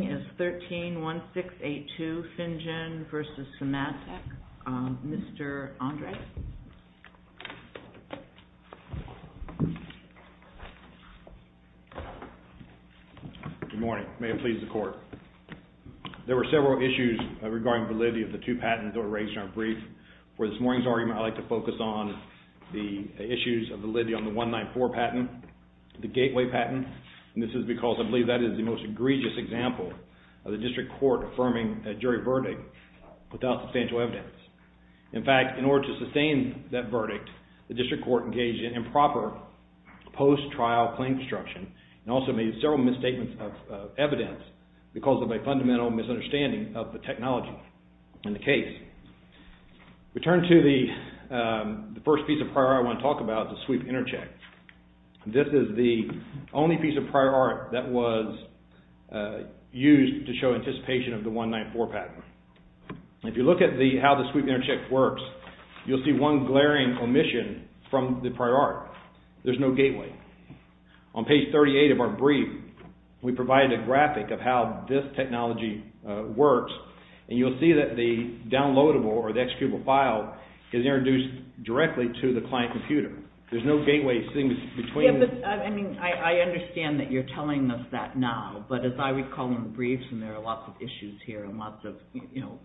is 13-1682, Finjan v. Symantec. Mr. Andres. Good morning. May it please the Court. There were several issues regarding validity of the two patents that were raised in our brief. For this morning's argument, I'd like to focus on the issues of validity on the 194 patent, the Gateway patent. And this is because I believe that is the most egregious example of the District Court affirming a jury verdict without substantial evidence. In fact, in order to sustain that verdict, the District Court engaged in improper post-trial claim construction and also made several misstatements of evidence because of a fundamental misunderstanding of the technology in the case. We turn to the first piece of prior art I want to talk about, the Sweep Intercheck. This is the only piece of prior art that was used to show anticipation of the 194 patent. If you look at how the Sweep Intercheck works, you'll see one glaring omission from the prior art. There's no gateway. On page 38 of our brief, we provide a graphic of how this technology works and you'll see that the downloadable or the executable file is introduced directly to the client computer. There's no gateway between... I understand that you're telling us that now, but as I recall in the briefs, and there are lots of issues here and lots of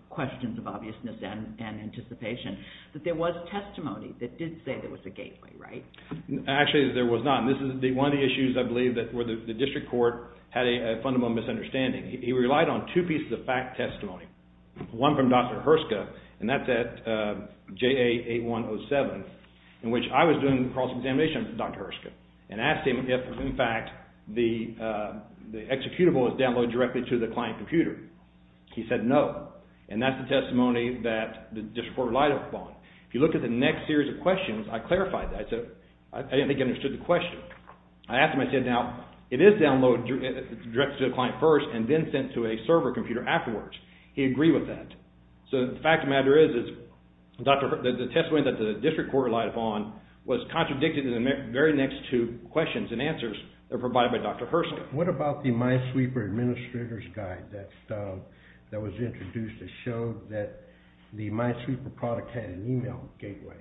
questions of obviousness and anticipation, that there was testimony that did say there was a gateway, right? Actually, there was not. This is one of the issues I believe that the District Court had a fundamental misunderstanding. He relied on two pieces of fact testimony. One from Dr. Herska, and that's at JA 8107, in which I was doing cross-examination with Dr. Herska and asked him if, in fact, the executable was downloaded directly to the client computer. He said no, and that's the testimony that the District Court relied upon. If you look at the next series of questions, I clarified that. I didn't think I understood the question. I asked him, I said, now, it is downloaded directly to the client first and then sent to a server computer afterwards. He agreed with that. So the fact of the matter is, the testimony that the District Court relied upon was contradicted in the very next two questions and answers that were provided by Dr. Herska. What about the MySweeper Administrator's Guide that was introduced that showed that the MySweeper product had an email gateway?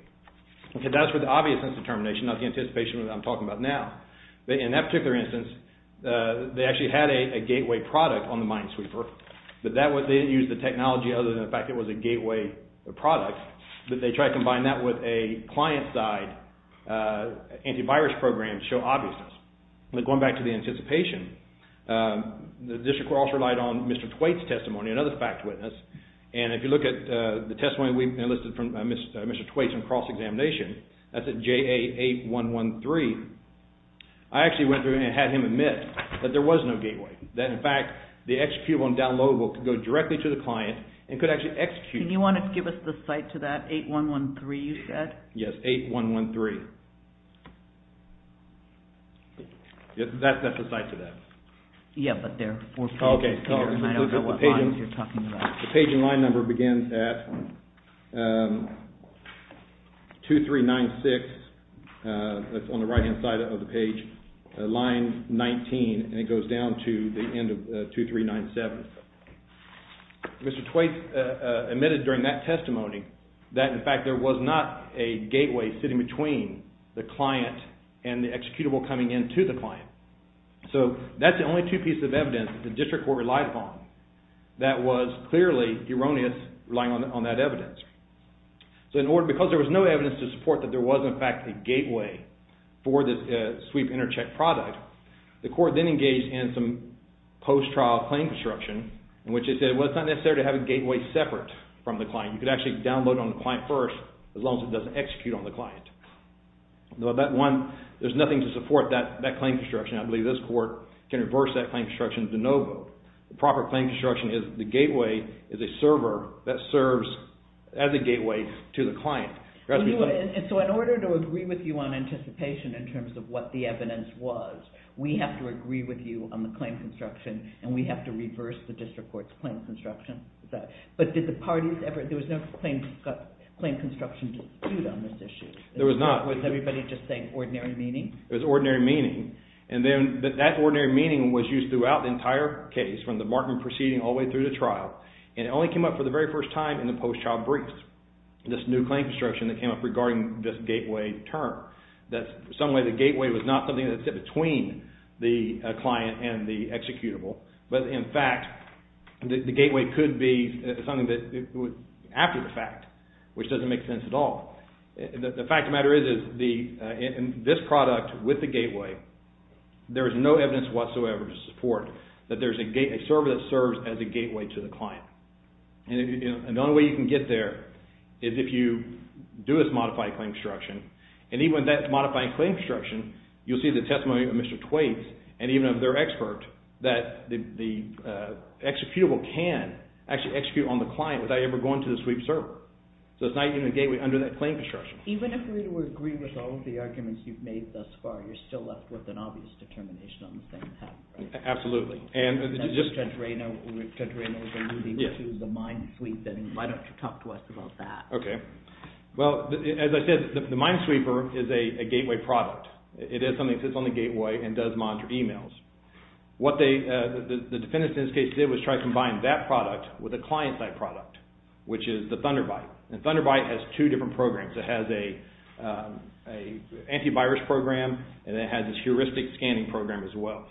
That's for the obviousness determination, not the anticipation that I'm talking about now. In that particular instance, they actually had a gateway product on the MySweeper, but they didn't use the technology other than the fact that it was a gateway product, but they tried to combine that with a client-side antivirus program to show obviousness. Going back to the anticipation, the District Court also relied on Mr. Twait's testimony, another fact witness. And if you look at the testimony we enlisted from Mr. Twait's on cross-examination, that's at JA8113, I actually went through and had him admit that there was no gateway, that in fact the executable and downloadable could go directly to the client and could actually execute. Can you want to give us the site to that 8113 you said? Yes, 8113. That's the site to that. Yeah, but there are four pages here and I don't know what lines you're talking about. The page and line number begins at 2396, that's on the right-hand side of the page, line 19, and it goes down to the end of 2397. Mr. Twait admitted during that testimony that in fact there was not a gateway sitting between the client and the executable coming into the client. So that's the only two pieces of evidence the District Court relied upon that was clearly erroneous relying on that evidence. So in order, because there was no evidence to support that there was in fact a gateway for the sweep intercheck product, the Court then engaged in some post-trial claim construction in which it said it was not necessary to have a gateway separate from the client, you could actually download on the client first as long as it doesn't execute on the client. There's nothing to support that claim construction. I believe this Court can reverse that claim construction to no vote. The proper claim construction is the gateway is a server that serves as a gateway to the client. So in order to agree with you on anticipation in terms of what the evidence was, we have to agree with you on the claim construction and we have to reverse the District Court's claim construction. But did the parties ever, there was no claim construction dispute on this issue? There was not. Was everybody just saying ordinary meaning? It was ordinary meaning. And then that ordinary meaning was used throughout the entire case from the marking proceeding all the way through the trial. And it only came up for the very first time in the post-trial briefs, this new claim construction that came up regarding this gateway term. That some way the gateway was not something that sit between the client and the executable. But in fact, the gateway could be something that would, after the fact, which doesn't make sense at all. The fact of the matter is, in this product with the gateway, there is no evidence whatsoever to support that there is a server that serves as a gateway to the client. And the only way you can get there is if you do this modified claim construction. And even with that modified claim construction, you'll see the testimony of Mr. Twaits and even of their expert that the executable can actually execute on the client without ever going to the sweep server. So it's not even a gateway under that claim construction. Even if we were to agree with all of the arguments you've made thus far, you're still left with an obvious determination on the same path, right? Absolutely. And Judge Rayna was alluding to the Minesweeper. Why don't you talk to us about that? Okay. Well, as I said, the Minesweeper is a gateway product. It is something that sits on the gateway and does monitor emails. What the defendants in this case did was try to combine that product with a client-side product, which is the Thunderbyte. And Thunderbyte has two different programs. It has an antivirus program, and it has a heuristic scanning program as well.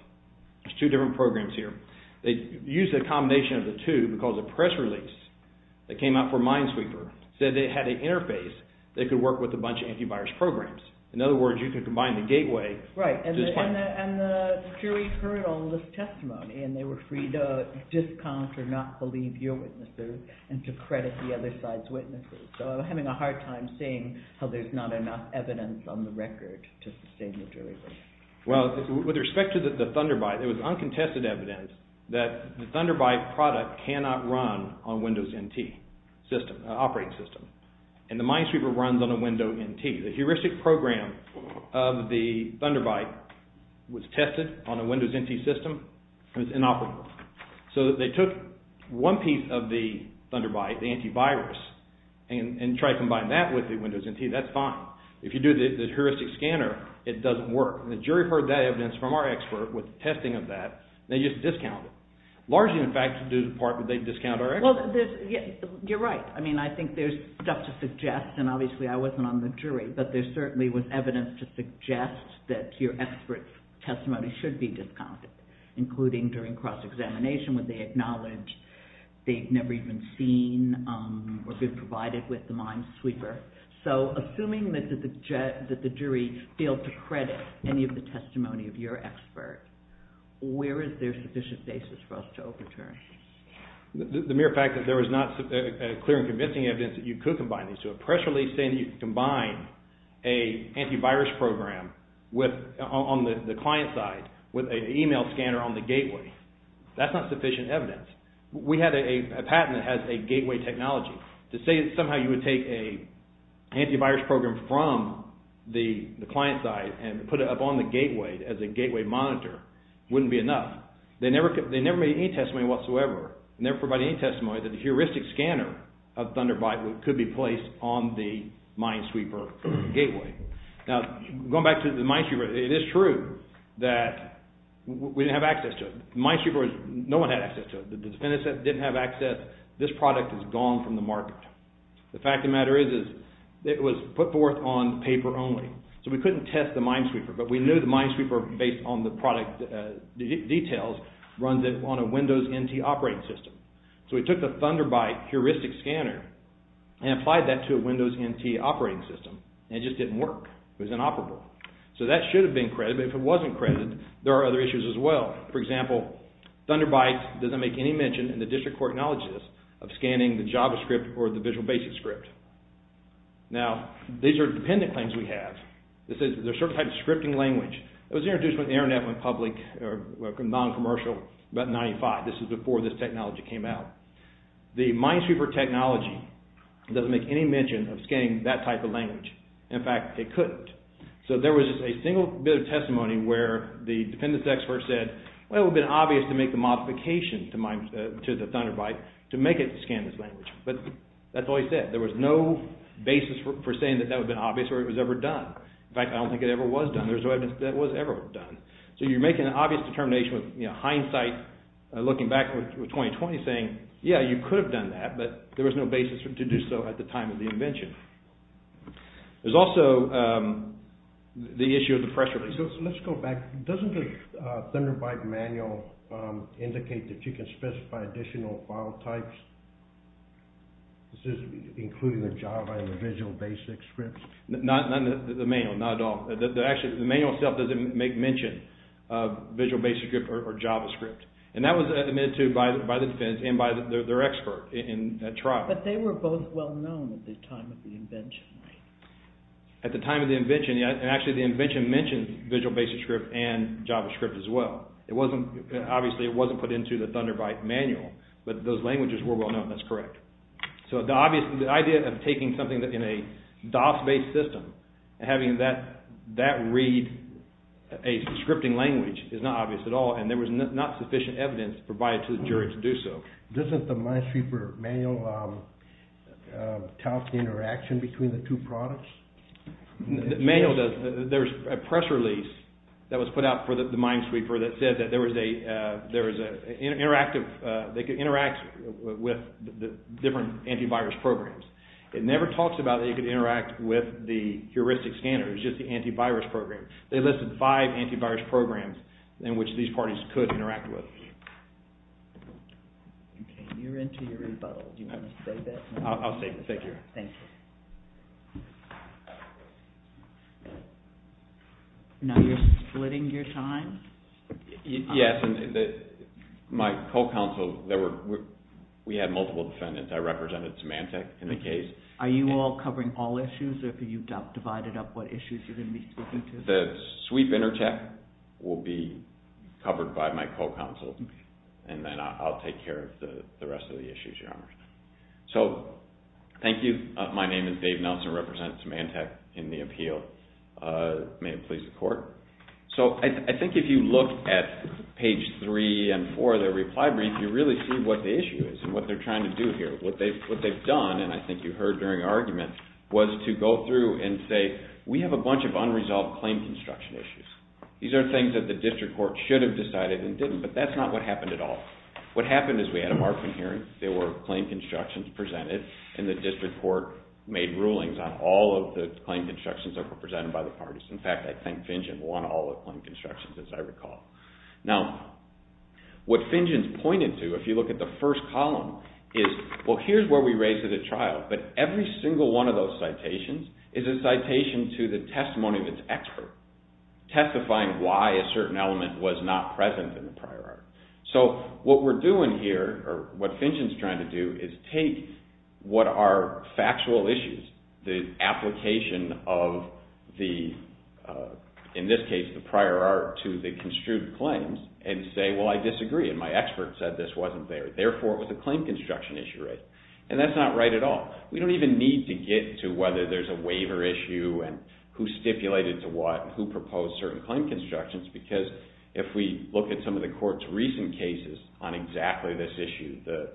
There's two different programs here. They used a combination of the two because a press release that came out for Minesweeper said it had an interface that could work with a bunch of antivirus programs. In other words, you could combine the gateway to this client. Right. And the jury heard all of this testimony, and they were free to discount or not believe your witnesses and to credit the other side's witnesses. So I'm having a hard time seeing how there's not enough evidence on the record to sustain the jury. Well, with respect to the Thunderbyte, there was uncontested evidence that the Thunderbyte product cannot run on Windows NT operating system, and the Minesweeper runs on a Windows NT. The heuristic program of the Thunderbyte was tested on a Windows NT system. It was inoperable. So they took one piece of the Thunderbyte, the antivirus, and tried to combine that with the Windows NT. That's fine. If you do the heuristic scanner, it doesn't work. The jury heard that evidence from our expert with testing of that, and they just discounted. Largely, in fact, due to the part that they discounted our expert. Well, you're right. I mean, I think there's stuff to suggest, and obviously I wasn't on the jury, but there certainly was evidence to suggest that your expert's testimony should be discounted, including during cross-examination when they acknowledge they've never even seen or been provided with the Minesweeper. So assuming that the jury failed to credit any of the testimony of your expert, where is there sufficient basis for us to overturn? The mere fact that there was not clear and convincing evidence that you could combine these two. A press release saying that you can combine an antivirus program on the client side with an email scanner on the gateway, that's not sufficient evidence. We had a patent that has a gateway technology. To say that somehow you would take an antivirus program from the client side and put it up on the gateway as a gateway monitor wouldn't be enough. They never made any testimony whatsoever, never provided any testimony that a heuristic scanner of Thunderbite could be placed on the Minesweeper gateway. Now, going back to the Minesweeper, it is true that we didn't have access to it. The Minesweeper, no one had access to it. The defendants didn't have access. This product is gone from the market. The fact of the matter is, it was put forth on paper only. So we couldn't test the Minesweeper, but we knew the Minesweeper, based on the product details, runs it on a Windows NT operating system. So we took the Thunderbite heuristic scanner and applied that to a Windows NT operating system and it just didn't work. It was inoperable. So that should have been credited, but if it wasn't credited, there are other issues as well. For example, Thunderbite doesn't make any mention in the district court knowledge list of scanning the JavaScript or the Visual Basic script. Now, these are dependent claims we have. This is a certain type of scripting language. It was introduced when the internet went public, or non-commercial, about 1995. This is before this technology came out. The Minesweeper technology doesn't make any mention of scanning that type of language. In fact, it couldn't. So there was a single bit of testimony where the defendants expert said, well, it would have been obvious to make the modification to the Thunderbite to make it scan this language. But that's all he said. There was no basis for saying that that would have been obvious or it was ever done. In fact, I don't think it ever was done. There's no evidence that it was ever done. So you're making an obvious determination with hindsight looking back with 2020 saying, yeah, you could have done that, but there was no basis to do so at the time of the invention. There's also the issue of the press releases. Let's go back. Doesn't the Thunderbite manual indicate that you can specify additional file types? This is including the Java and the Visual Basic Scripts? Not the manual, not at all. Actually, the manual itself doesn't make mention of Visual Basic Script or JavaScript. And that was admitted to by the defendants and by their expert in that trial. But they were both well-known at the time of the invention. At the time of the invention, and actually the invention mentioned Visual Basic Script and JavaScript as well. Obviously, it wasn't put into the Thunderbite manual, but those languages were well-known. That's correct. So the idea of taking something in a DOS-based system and having that read a scripting language is not obvious at all, and there was not sufficient evidence provided to the jury to do so. Doesn't the Minesweeper manual tell us the interaction between the two products? The manual does. There's a press release that was put out for the Minesweeper that says that they could interact with different antivirus programs. It never talks about that you could interact with the heuristic scanner. It's just the antivirus program. They listed five antivirus programs in which these parties could interact with. You're into your rebuttal. I'll save it. Thank you. Now you're splitting your time? Yes. My co-counsel, we had multiple defendants. I represented Symantec in the case. Are you all covering all issues, or have you divided up what issues you're going to be speaking to? The sweep intercheck will be covered by my co-counsel, and then I'll take care of the rest of the issues, Your Honor. So thank you. My name is Dave Nelson. I represent Symantec in the appeal. May it please the Court. I think if you look at page 3 and 4 of the reply brief, you really see what the issue is and what they're trying to do here. What they've done, and I think you heard during argument, was to go through and say, we have a bunch of unresolved claim construction issues. These are things that the district court should have decided and didn't, but that's not what happened at all. What happened is we had a Markman hearing. There were claim constructions presented, and the district court made rulings on all of the claim constructions that were presented by the parties. In fact, I think Finjen won all the claim constructions, as I recall. Now, what Finjen's pointed to, if you look at the first column, is, well, here's where we raised it at trial, but every single one of those citations is a citation to the testimony of its expert, testifying why a certain element was not present in the prior art. So what we're doing here, or what Finjen's trying to do, is take what are factual issues, the application of the, in this case, the prior art, to the construed claims, and say, well, I disagree, and my expert said this wasn't there. Therefore, it was a claim construction issue, right? And that's not right at all. We don't even need to get to whether there's a waiver issue and who stipulated to what, who proposed certain claim constructions, because if we look at some of the court's recent cases on exactly this issue, the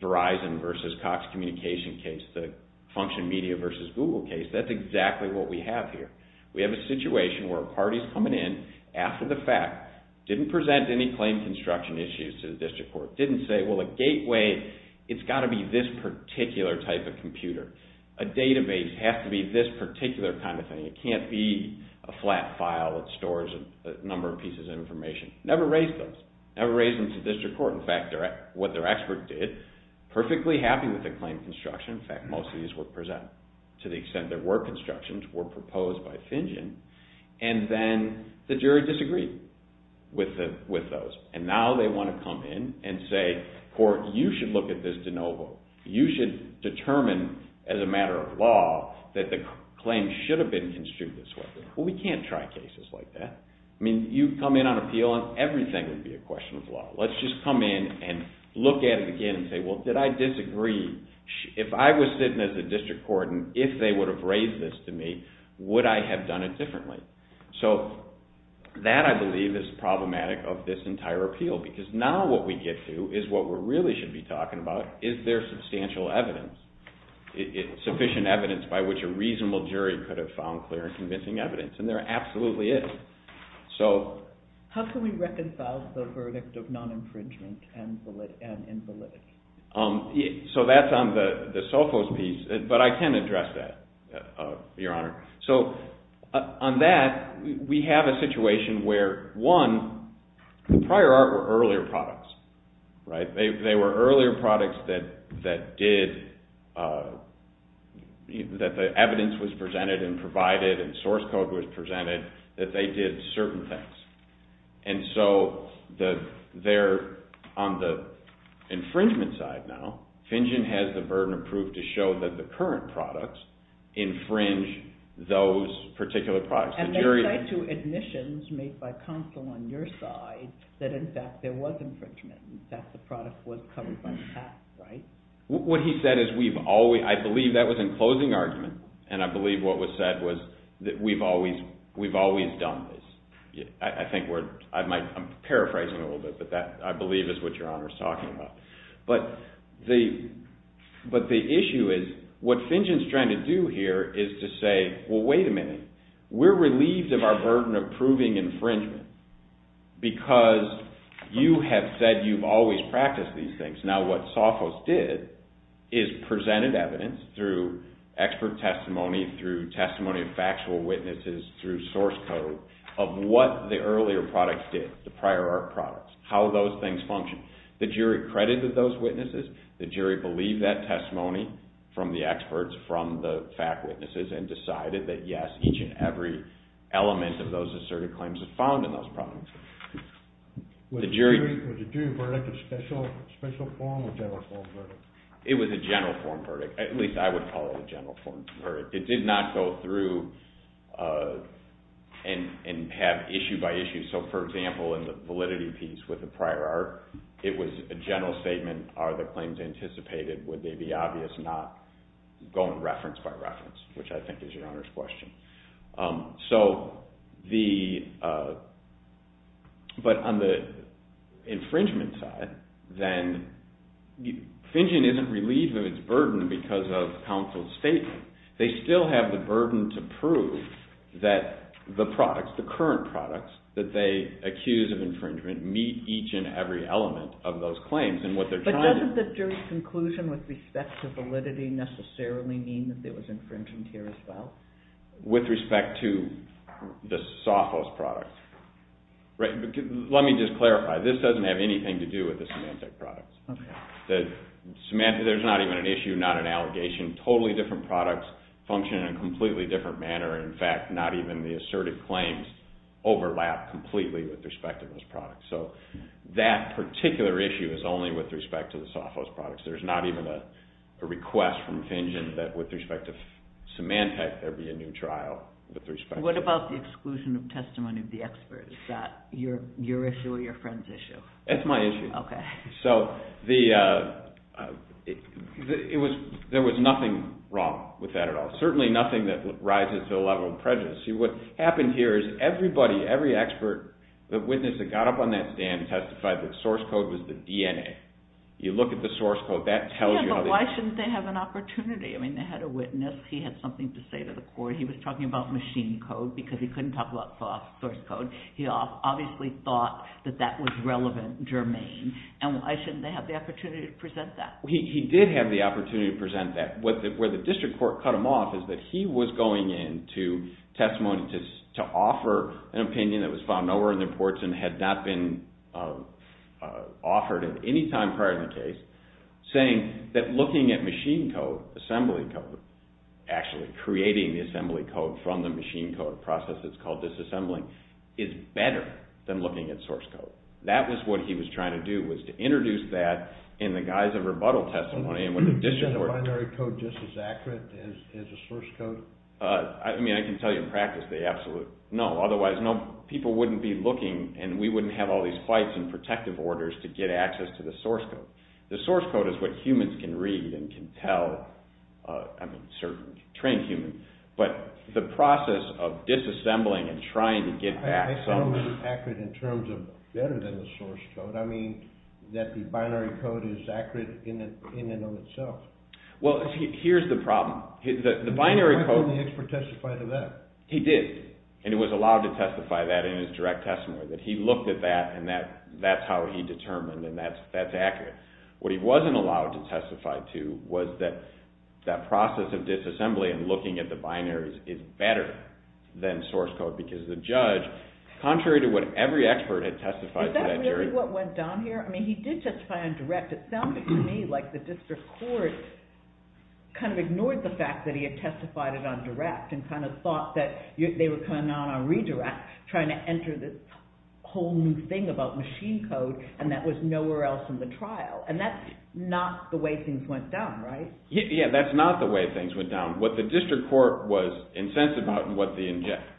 Verizon versus Cox Communication case, the Function Media versus Google case, that's exactly what we have here. We have a situation where a party's coming in after the fact, didn't present any claim construction issues to the district court, didn't say, well, a gateway, it's got to be this particular type of computer. A database has to be this particular kind of thing. It can't be a flat file that stores a number of pieces of information. Never raised those. Never raised them to district court. In fact, what their expert did, perfectly happy with the claim construction, in fact, most of these were presented, to the extent there were constructions, were proposed by Fingen, and then the jury disagreed with those. And now they want to come in and say, court, you should look at this de novo. You should determine, as a matter of law, that the claim should have been construed this way. Well, we can't try cases like that. I mean, you come in on appeal and everything would be a question of law. Let's just come in and look at it again and say, well, did I disagree? If I was sitting as a district court and if they would have raised this to me, would I have done it differently? So that, I believe, is problematic of this entire appeal because now what we get to is what we really should be talking about, is there substantial evidence, sufficient evidence by which a reasonable jury could have found clear and convincing evidence, and there absolutely is. So... How can we reconcile the verdict of non-infringement and invalidity? So that's on the Sophos piece, but I can address that, Your Honor. So on that, we have a situation where, one, the prior art were earlier products, right? They were earlier products that did... that the evidence was presented and provided and source code was presented, that they did certain things. And so they're on the infringement side now. Fingen has the burden approved to show that the current products infringe those particular products. And they say to admissions made by counsel on your side that, in fact, there was infringement, that the product was covered by the past, right? What he said is we've always... I believe that was in closing argument, and I believe what was said was that we've always done this. I think we're... I'm paraphrasing a little bit, but that, I believe, is what Your Honor's talking about. But the issue is, what Fingen's trying to do here is to say, well, wait a minute. We're relieved of our burden of proving infringement because you have said you've always practiced these things. Now what Sophos did is presented evidence through expert testimony, through testimony of factual witnesses, through source code of what the earlier products did, the prior art products, how those things function. The jury credited those witnesses. The jury believed that testimony from the experts, from the fact witnesses, and decided that, yes, each and every element of those asserted claims was found in those products. The jury... Was the jury verdict a special form or general form verdict? It was a general form verdict. At least I would call it a general form verdict. It did not go through and have issue by issue. So, for example, in the validity piece with the prior art, it was a general statement. Are the claims anticipated? Would they be obvious? Not going reference by reference, which I think is Your Honor's question. So, the... But on the infringement side, then, finging isn't relieved of its burden because of counsel's statement. They still have the burden to prove that the products, the current products, that they accuse of infringement meet each and every element of those claims. necessarily mean that there was infringement here as well? With respect to the Sophos products. Right? Let me just clarify. This doesn't have anything to do with the Symantec products. The Symantec... There's not even an issue, not an allegation. Totally different products function in a completely different manner. In fact, not even the asserted claims overlap completely with respect to those products. So, that particular issue is only with respect to the Sophos products. There's not even a request from finging that with respect to Symantec there be a new trial. What about the exclusion of testimony of the experts? Is that your issue or your friend's issue? That's my issue. Okay. There was nothing wrong with that at all. Certainly nothing that rises to the level of prejudice. See, what happened here is everybody, every expert, the witness that got up on that stand testified that the source code was the DNA. You look at the source code, that tells you... Why shouldn't they have an opportunity? I mean, they had a witness. He had something to say to the court. He was talking about machine code because he couldn't talk about source code. He obviously thought that that was relevant, germane. And why shouldn't they have the opportunity to present that? He did have the opportunity to present that. Where the district court cut him off is that he was going in to testimony to offer an opinion that was found nowhere in the reports and had not been offered at any time prior to the case saying that looking at machine code, assembly code, actually creating the assembly code from the machine code process that's called disassembling, is better than looking at source code. That was what he was trying to do was to introduce that in the guise of rebuttal testimony and when the district court... Is that binary code just as accurate as the source code? I mean, I can tell you in practice they absolutely... No, otherwise people wouldn't be looking and we wouldn't have all these fights and protective orders to get access to the source code. The source code is what humans can read and can tell, I mean, certain trained humans, but the process of disassembling and trying to get back... I don't mean accurate in terms of better than the source code. I mean that the binary code is accurate in and of itself. Well, here's the problem. The binary code... Why didn't the expert testify to that? He did, and he was allowed to testify that in his direct testimony, that he looked at that and that's how he determined and that's accurate. What he wasn't allowed to testify to was that that process of disassembly and looking at the binaries is better than source code because the judge, contrary to what every expert had testified to that jury... Is that really what went down here? I mean, he did testify on direct. It sounded to me like the district court kind of ignored the fact that he had testified it on direct and kind of thought that they were coming out on redirect trying to enter this whole new thing about machine code and that was nowhere else in the trial. And that's not the way things went down, right? Yeah, that's not the way things went down. What the district court was incensed about and what the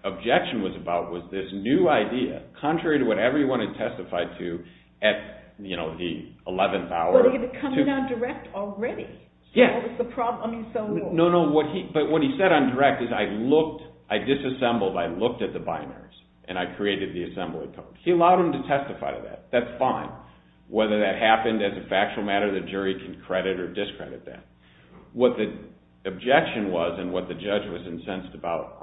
objection was about was this new idea, contrary to what everyone had testified to at the 11th hour... But he had come in on direct already. That was the problem. No, no, but what he said on direct is I looked, I disassembled, I looked at the binaries and I created the assembly code. He allowed him to testify to that. That's fine. Whether that happened as a factual matter, the jury can credit or discredit that. What the objection was and what the judge was incensed about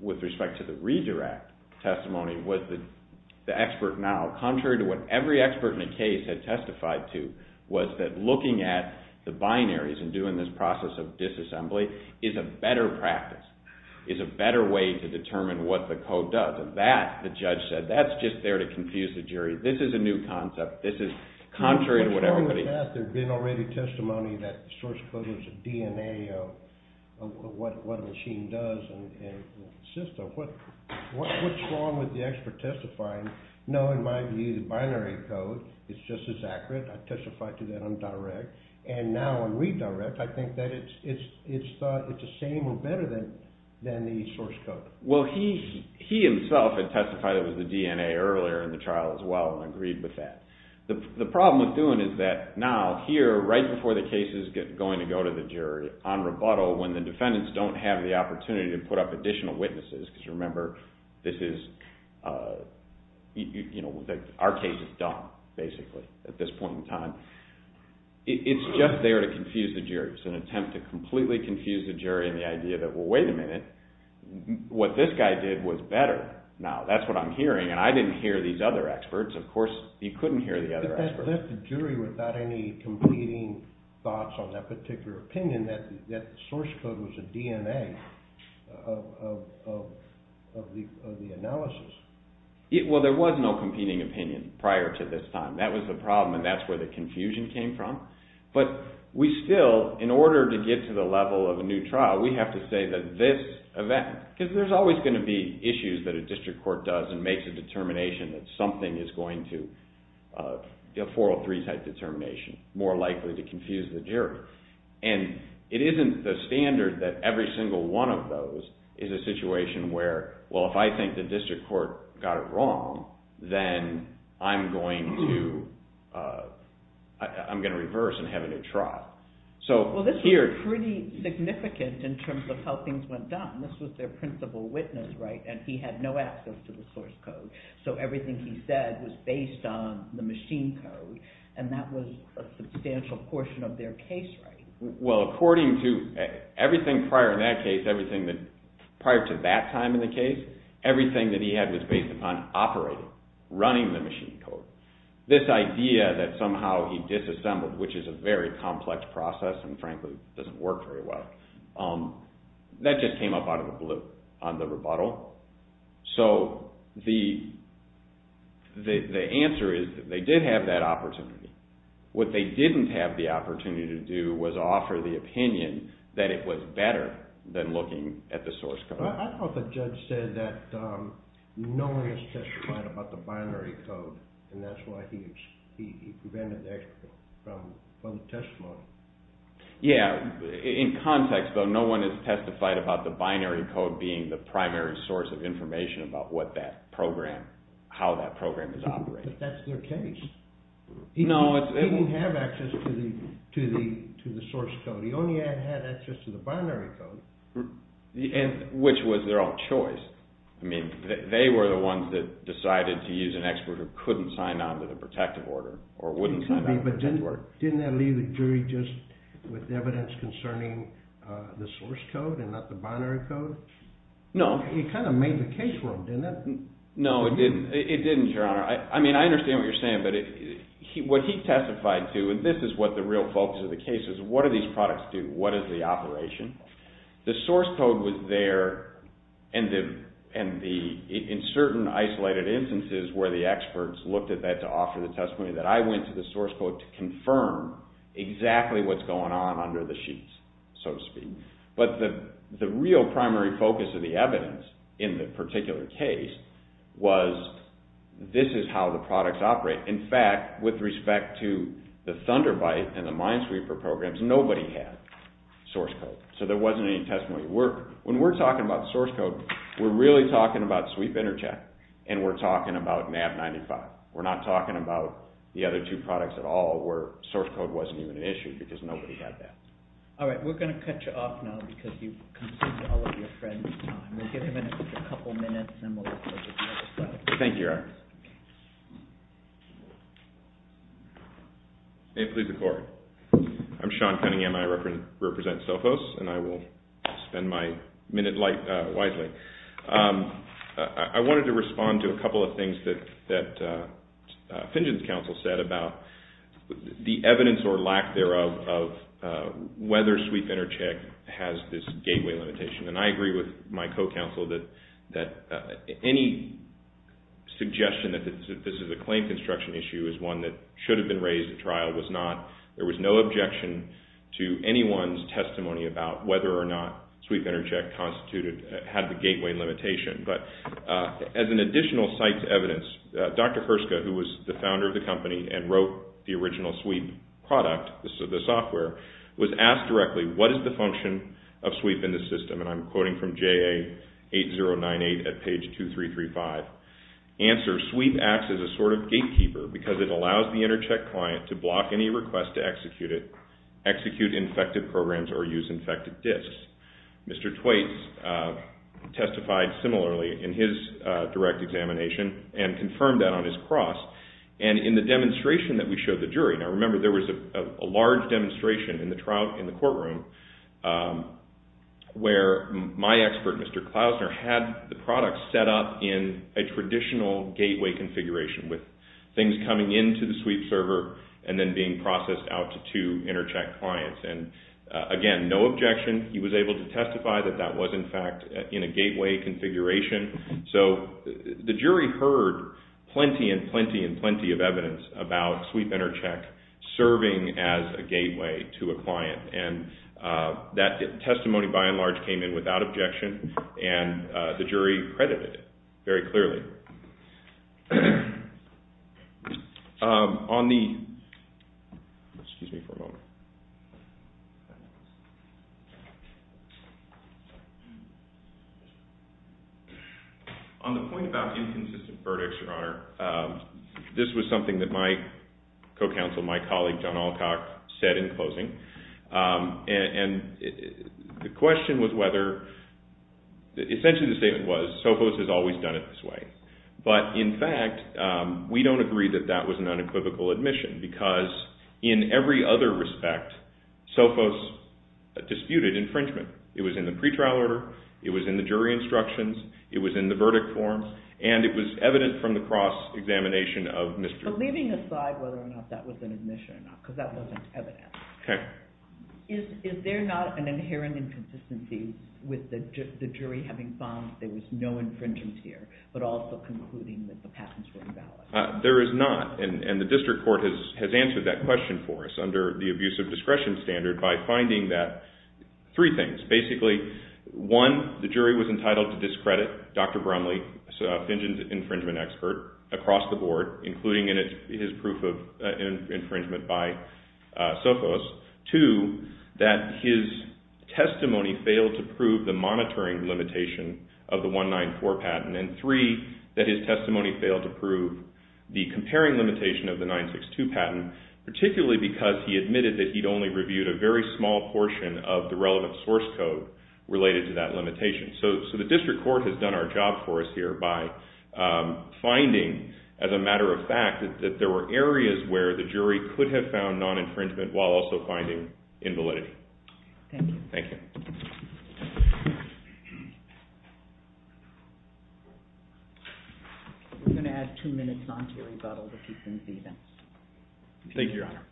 with respect to the redirect testimony was the expert now, contrary to what every expert in the case had testified to, was that looking at the binaries and doing this process of disassembly is a better practice, is a better way to determine what the code does. Because of that, the judge said, that's just there to confuse the jury. This is a new concept. This is contrary to what everybody... What's wrong with that? There had been already testimony that the source code was a DNA of what a machine does and a system. What's wrong with the expert testifying, no, in my view, the binary code is just as accurate. I testified to that on direct. And now on redirect, I think that it's the same or better than the source code. Well, he himself had testified that it was the DNA earlier in the trial as well and agreed with that. The problem with doing it is that now, here right before the case is going to go to the jury on rebuttal when the defendants don't have the opportunity to put up additional witnesses, because remember, our case is done, basically, at this point in time. It's just there to confuse the jury. in the idea that, well, wait a minute, what this guy did was better. Now, that's what I'm hearing, and I didn't hear these other experts. Of course, he couldn't hear the other experts. That left the jury without any competing thoughts on that particular opinion that the source code was a DNA of the analysis. Well, there was no competing opinion prior to this time. That was the problem, and that's where the confusion came from. But we still, in order to get to the level of a new trial, we have to say that this event, because there's always going to be issues that a district court does and makes a determination that something is going to, a 403 type determination, more likely to confuse the jury. And it isn't the standard that every single one of those is a situation where, well, if I think the district court got it wrong, then I'm going to reverse and have a new trial. Well, this was pretty significant in terms of how things went down. This was their principal witness, right? And he had no access to the source code, so everything he said was based on the machine code, and that was a substantial portion of their case writing. Well, according to everything prior in that case, everything prior to that time in the case, everything that he had was based upon operating, running the machine code. This idea that somehow he disassembled, which is a very complex process, and frankly doesn't work very well, that just came up out of the blue on the rebuttal. So the answer is that they did have that opportunity. What they didn't have the opportunity to do was offer the opinion that it was better than looking at the source code. I thought the judge said that no one has testified about the binary code, and that's why he prevented the expert from the testimony. Yeah, in context, though, no one has testified about the binary code being the primary source of information about how that program is operating. But that's their case. He didn't have access to the source code. He only had access to the binary code. Which was their own choice. I mean, they were the ones that decided to use an expert who couldn't sign on to the protective order, or wouldn't sign on to the protective order. Didn't that leave the jury just with evidence concerning the source code and not the binary code? No. It kind of made the case for them, didn't it? No, it didn't, Your Honor. I mean, I understand what you're saying, but what he testified to, and this is what the real focus of the case is, what do these products do? What is the operation? The source code was there, and in certain isolated instances where the experts looked at that to offer the testimony, that I went to the source code to confirm exactly what's going on under the sheets, so to speak. But the real primary focus of the evidence in the particular case was this is how the products operate. In fact, with respect to the Thunderbyte and the Minesweeper programs, nobody had source code. So there wasn't any testimony. When we're talking about source code, we're really talking about Sweep Intercheck, and we're talking about MAP-95. We're not talking about the other two products at all where source code wasn't even an issue because nobody had that. All right. We're going to cut you off now because you've consumed all of your friend's time. We'll give him a couple minutes, and then we'll go to the next slide. Thank you, Your Honor. May it please the Court. I'm Sean Cunningham. I represent Sophos, and I will spend my minute wisely. I wanted to respond to a couple of things that Fingen's counsel said about the evidence or lack thereof of whether Sweep Intercheck has this gateway limitation. And I agree with my co-counsel that any suggestion that this is a claim construction issue is one that should have been raised at trial. It was not. There was no objection to anyone's testimony about whether or not Sweep Intercheck had the gateway limitation. But as an additional site's evidence, Dr. Herska, who was the founder of the company and wrote the original Sweep product, the software, was asked directly, what is the function of Sweep in the system? And I'm quoting from JA 8098 at page 2335. Answer, Sweep acts as a sort of gatekeeper because it allows the Intercheck client to block any request to execute it, execute infected programs, or use infected disks. Mr. Twaits testified similarly in his direct examination and confirmed that on his cross. And in the demonstration that we showed the jury, now remember there was a large demonstration in the courtroom where my expert, Mr. Klausner, had the product set up in a traditional gateway configuration with things coming into the Sweep server and then being processed out to two Intercheck clients. And again, no objection. He was able to testify that that was in fact in a gateway configuration. So the jury heard plenty and plenty and plenty of evidence about Sweep Intercheck serving as a gateway to a client. And that testimony by and large came in without objection and the jury credited it very clearly. On the point about inconsistent verdicts, Your Honor, this was something that my co-counsel, my colleague, John Alcock, said in closing. And the question was whether... Essentially the statement was, Sophos has always done it this way. But in fact, we don't agree that that was an unequivocal admission because in every other respect, Sophos disputed infringement. It was in the pretrial order, it was in the jury instructions, it was in the verdict form, and it was evident from the cross-examination of Mr. Twaits. But leaving aside whether or not that was an admission or not, because that wasn't evident, is there not an inherent inconsistency with the jury having found there was no infringement here but also concluding that the patents were invalid? There is not. And the district court has answered that question for us under the abuse of discretion standard by finding that three things. Basically, one, the jury was entitled to discredit Dr. Bromley, a fingered infringement expert, across the board, including in his proof of infringement by Sophos. Two, that his testimony failed to prove the monitoring limitation of the 194 patent. And three, that his testimony failed to prove the comparing limitation of the 962 patent, particularly because he admitted that he'd only reviewed a very small portion of the relevant source code related to that limitation. So the district court has done our job for us here by finding, as a matter of fact, that there were areas where the jury could have found non-infringement while also finding invalidity. Thank you. Thank you. We're going to add two minutes onto the rebuttal to keep things even. Thank you, Your Honor.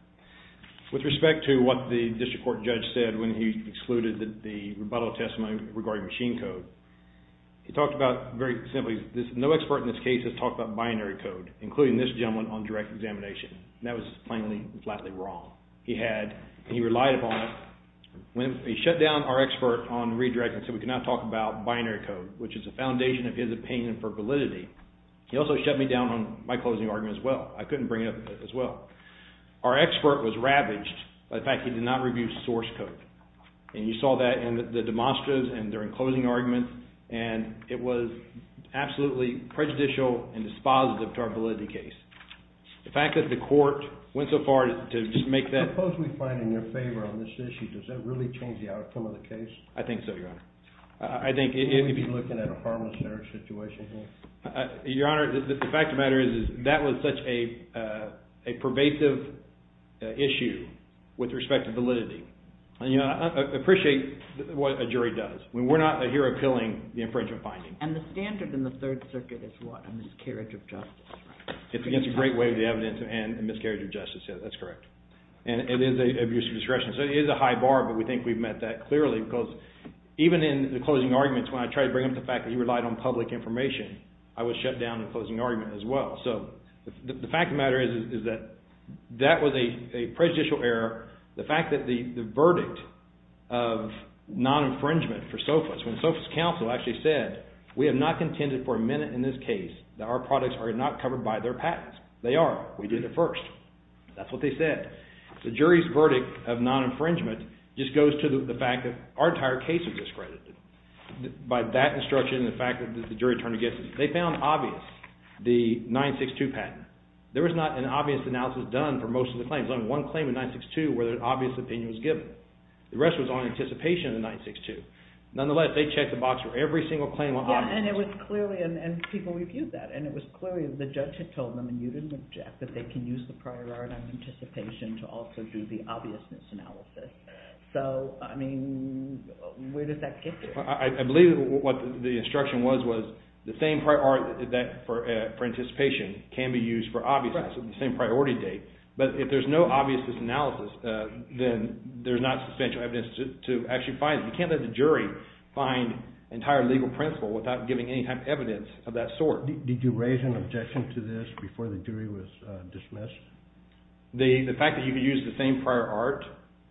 With respect to what the district court judge said when he excluded that the rebuttal testimony regarding machine code, he talked about, very simply, no expert in this case has talked about binary code, including this gentleman on direct examination. That was plainly and flatly wrong. He had, and he relied upon it. When he shut down our expert on redirecting, he said we cannot talk about binary code, which is the foundation of his opinion for validity. He also shut me down on my closing argument as well. I couldn't bring it up as well. Our expert was ravaged by the fact he did not review source code. And you saw that in the demonstras and during closing arguments. And it was absolutely prejudicial and dispositive to our validity case. The fact that the court went so far to just make that... Suppose we find in your favor on this issue, does that really change the outcome of the case? I think so, Your Honor. I think it... Would we be looking at a harmless error situation here? Your Honor, the fact of the matter is that was such a pervasive issue with respect to validity. I appreciate what a jury does. We're not here appealing the infringement finding. And the standard in the Third Circuit is what? A miscarriage of justice, right? It's against the great weight of the evidence and a miscarriage of justice, yes, that's correct. And it is an abuse of discretion. So it is a high bar, but we think we've met that clearly because even in the closing arguments, when I tried to bring up the fact that he relied on public information, I was shut down in the closing argument as well. So the fact of the matter is that that was a prejudicial error. The fact that the verdict of non-infringement for Sophus, when Sophus' counsel actually said, we have not contended for a minute in this case that our products are not covered by their patents. They are. We did it first. That's what they said. The jury's verdict of non-infringement just goes to the fact that our entire case was discredited by that instruction and the fact that the jury turned against it. They found obvious the 962 patent. There was not an obvious analysis done for most of the claims. There was only one claim in 962 where an obvious opinion was given. The rest was on anticipation in 962. Nonetheless, they checked the box for every single claim on obviousness. And it was clearly, and people reviewed that, and it was clearly the judge had told them, and you didn't object, that they can use the priority on anticipation to also do the obviousness analysis. So, I mean, where did that get to? I believe what the instruction was was the same priority for anticipation can be used for obviousness on the same priority date. But if there's no obviousness analysis, then there's not substantial evidence to actually find it. You can't let the jury find entire legal principle without giving any type of evidence of that sort. Did you raise an objection to this before the jury was dismissed? The fact that you could use the same prior art,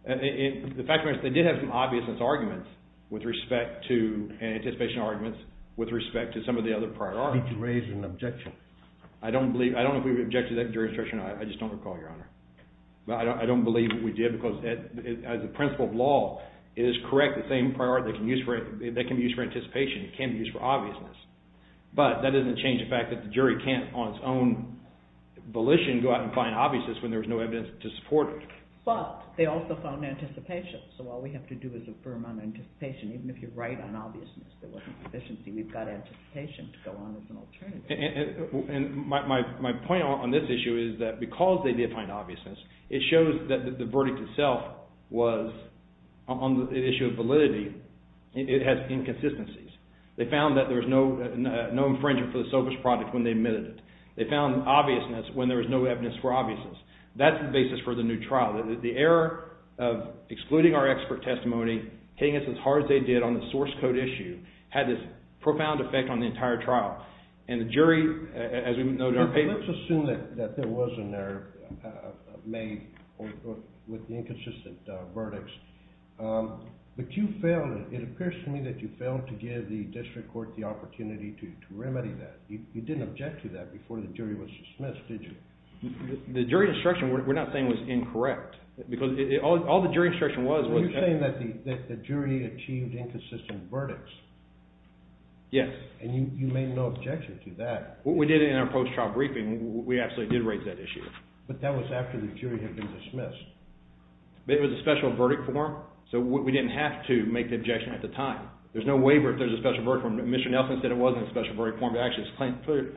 the fact of the matter is they did have some obviousness arguments with respect to anticipation arguments with respect to some of the other prior art. Did you raise an objection? I don't know if we objected to that jury instruction. I just don't recall, Your Honor. I don't believe that we did because as a principle of law, it is correct, the same prior art that can be used for anticipation can be used for obviousness. But that doesn't change the fact that the jury can't, on its own volition, go out and find obviousness when there's no evidence to support it. But they also found anticipation, so all we have to do is affirm on anticipation, even if you're right on obviousness. There wasn't sufficiency. We've got anticipation to go on as an alternative. My point on this issue is that because they did find obviousness, it shows that the verdict itself was, on the issue of validity, it has inconsistencies. They found that there was no infringement for the selfish product when they admitted it. They found obviousness when there was no evidence for obviousness. That's the basis for the new trial. The error of excluding our expert testimony, hitting us as hard as they did on the source code issue, had this profound effect on the entire trial. And the jury, as we noted on paper... Let's assume that there was an error made with the inconsistent verdicts. But you failed, it appears to me, that you failed to give the district court the opportunity to remedy that. You didn't object to that before the jury was dismissed, did you? The jury instruction, we're not saying, was incorrect. Because all the jury instruction was... Are you saying that the jury achieved inconsistent verdicts? Yes. And you made no objection to that. What we did in our post-trial briefing, we actually did raise that issue. But that was after the jury had been dismissed. It was a special verdict form, so we didn't have to make the objection at the time. There's no waiver if there's a special verdict form. Mr. Nelson said it wasn't a special verdict form, but actually it's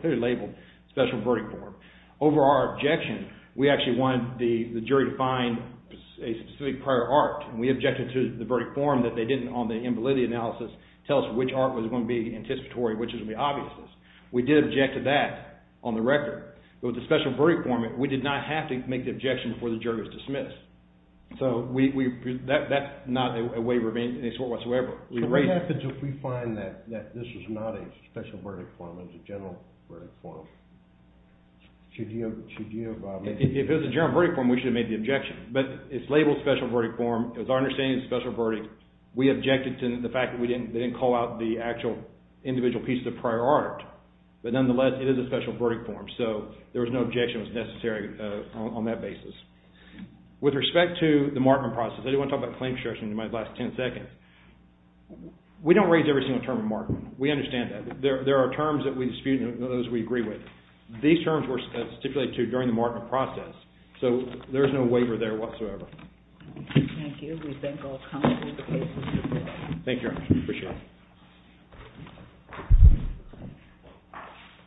clearly labeled special verdict form. Over our objection, we actually wanted the jury to find a specific prior art, and we objected to the verdict form that they didn't, on the invalidity analysis, tell us which art was going to be anticipatory, which was going to be obvious. We did object to that on the record. But with the special verdict form, we did not have to make the objection before the jury was dismissed. So that's not a waiver of any sort whatsoever. So what happens if we find that this is not a special verdict form, it's a general verdict form? If it was a general verdict form, we should have made the objection. But it's labeled special verdict form. It was our understanding it's a special verdict. We objected to the fact that they didn't call out the actual individual pieces of prior art. But nonetheless, it is a special verdict form. So there was no objection that was necessary on that basis. With respect to the markman process, I didn't want to talk about claim construction in my last 10 seconds. We don't raise every single term of markman. We understand that. There are terms that we dispute and those we agree with. These terms were stipulated to during the markman process. So there's no waiver there whatsoever. Thank you. We thank all commenters for their patience. Thank you very much. We appreciate it.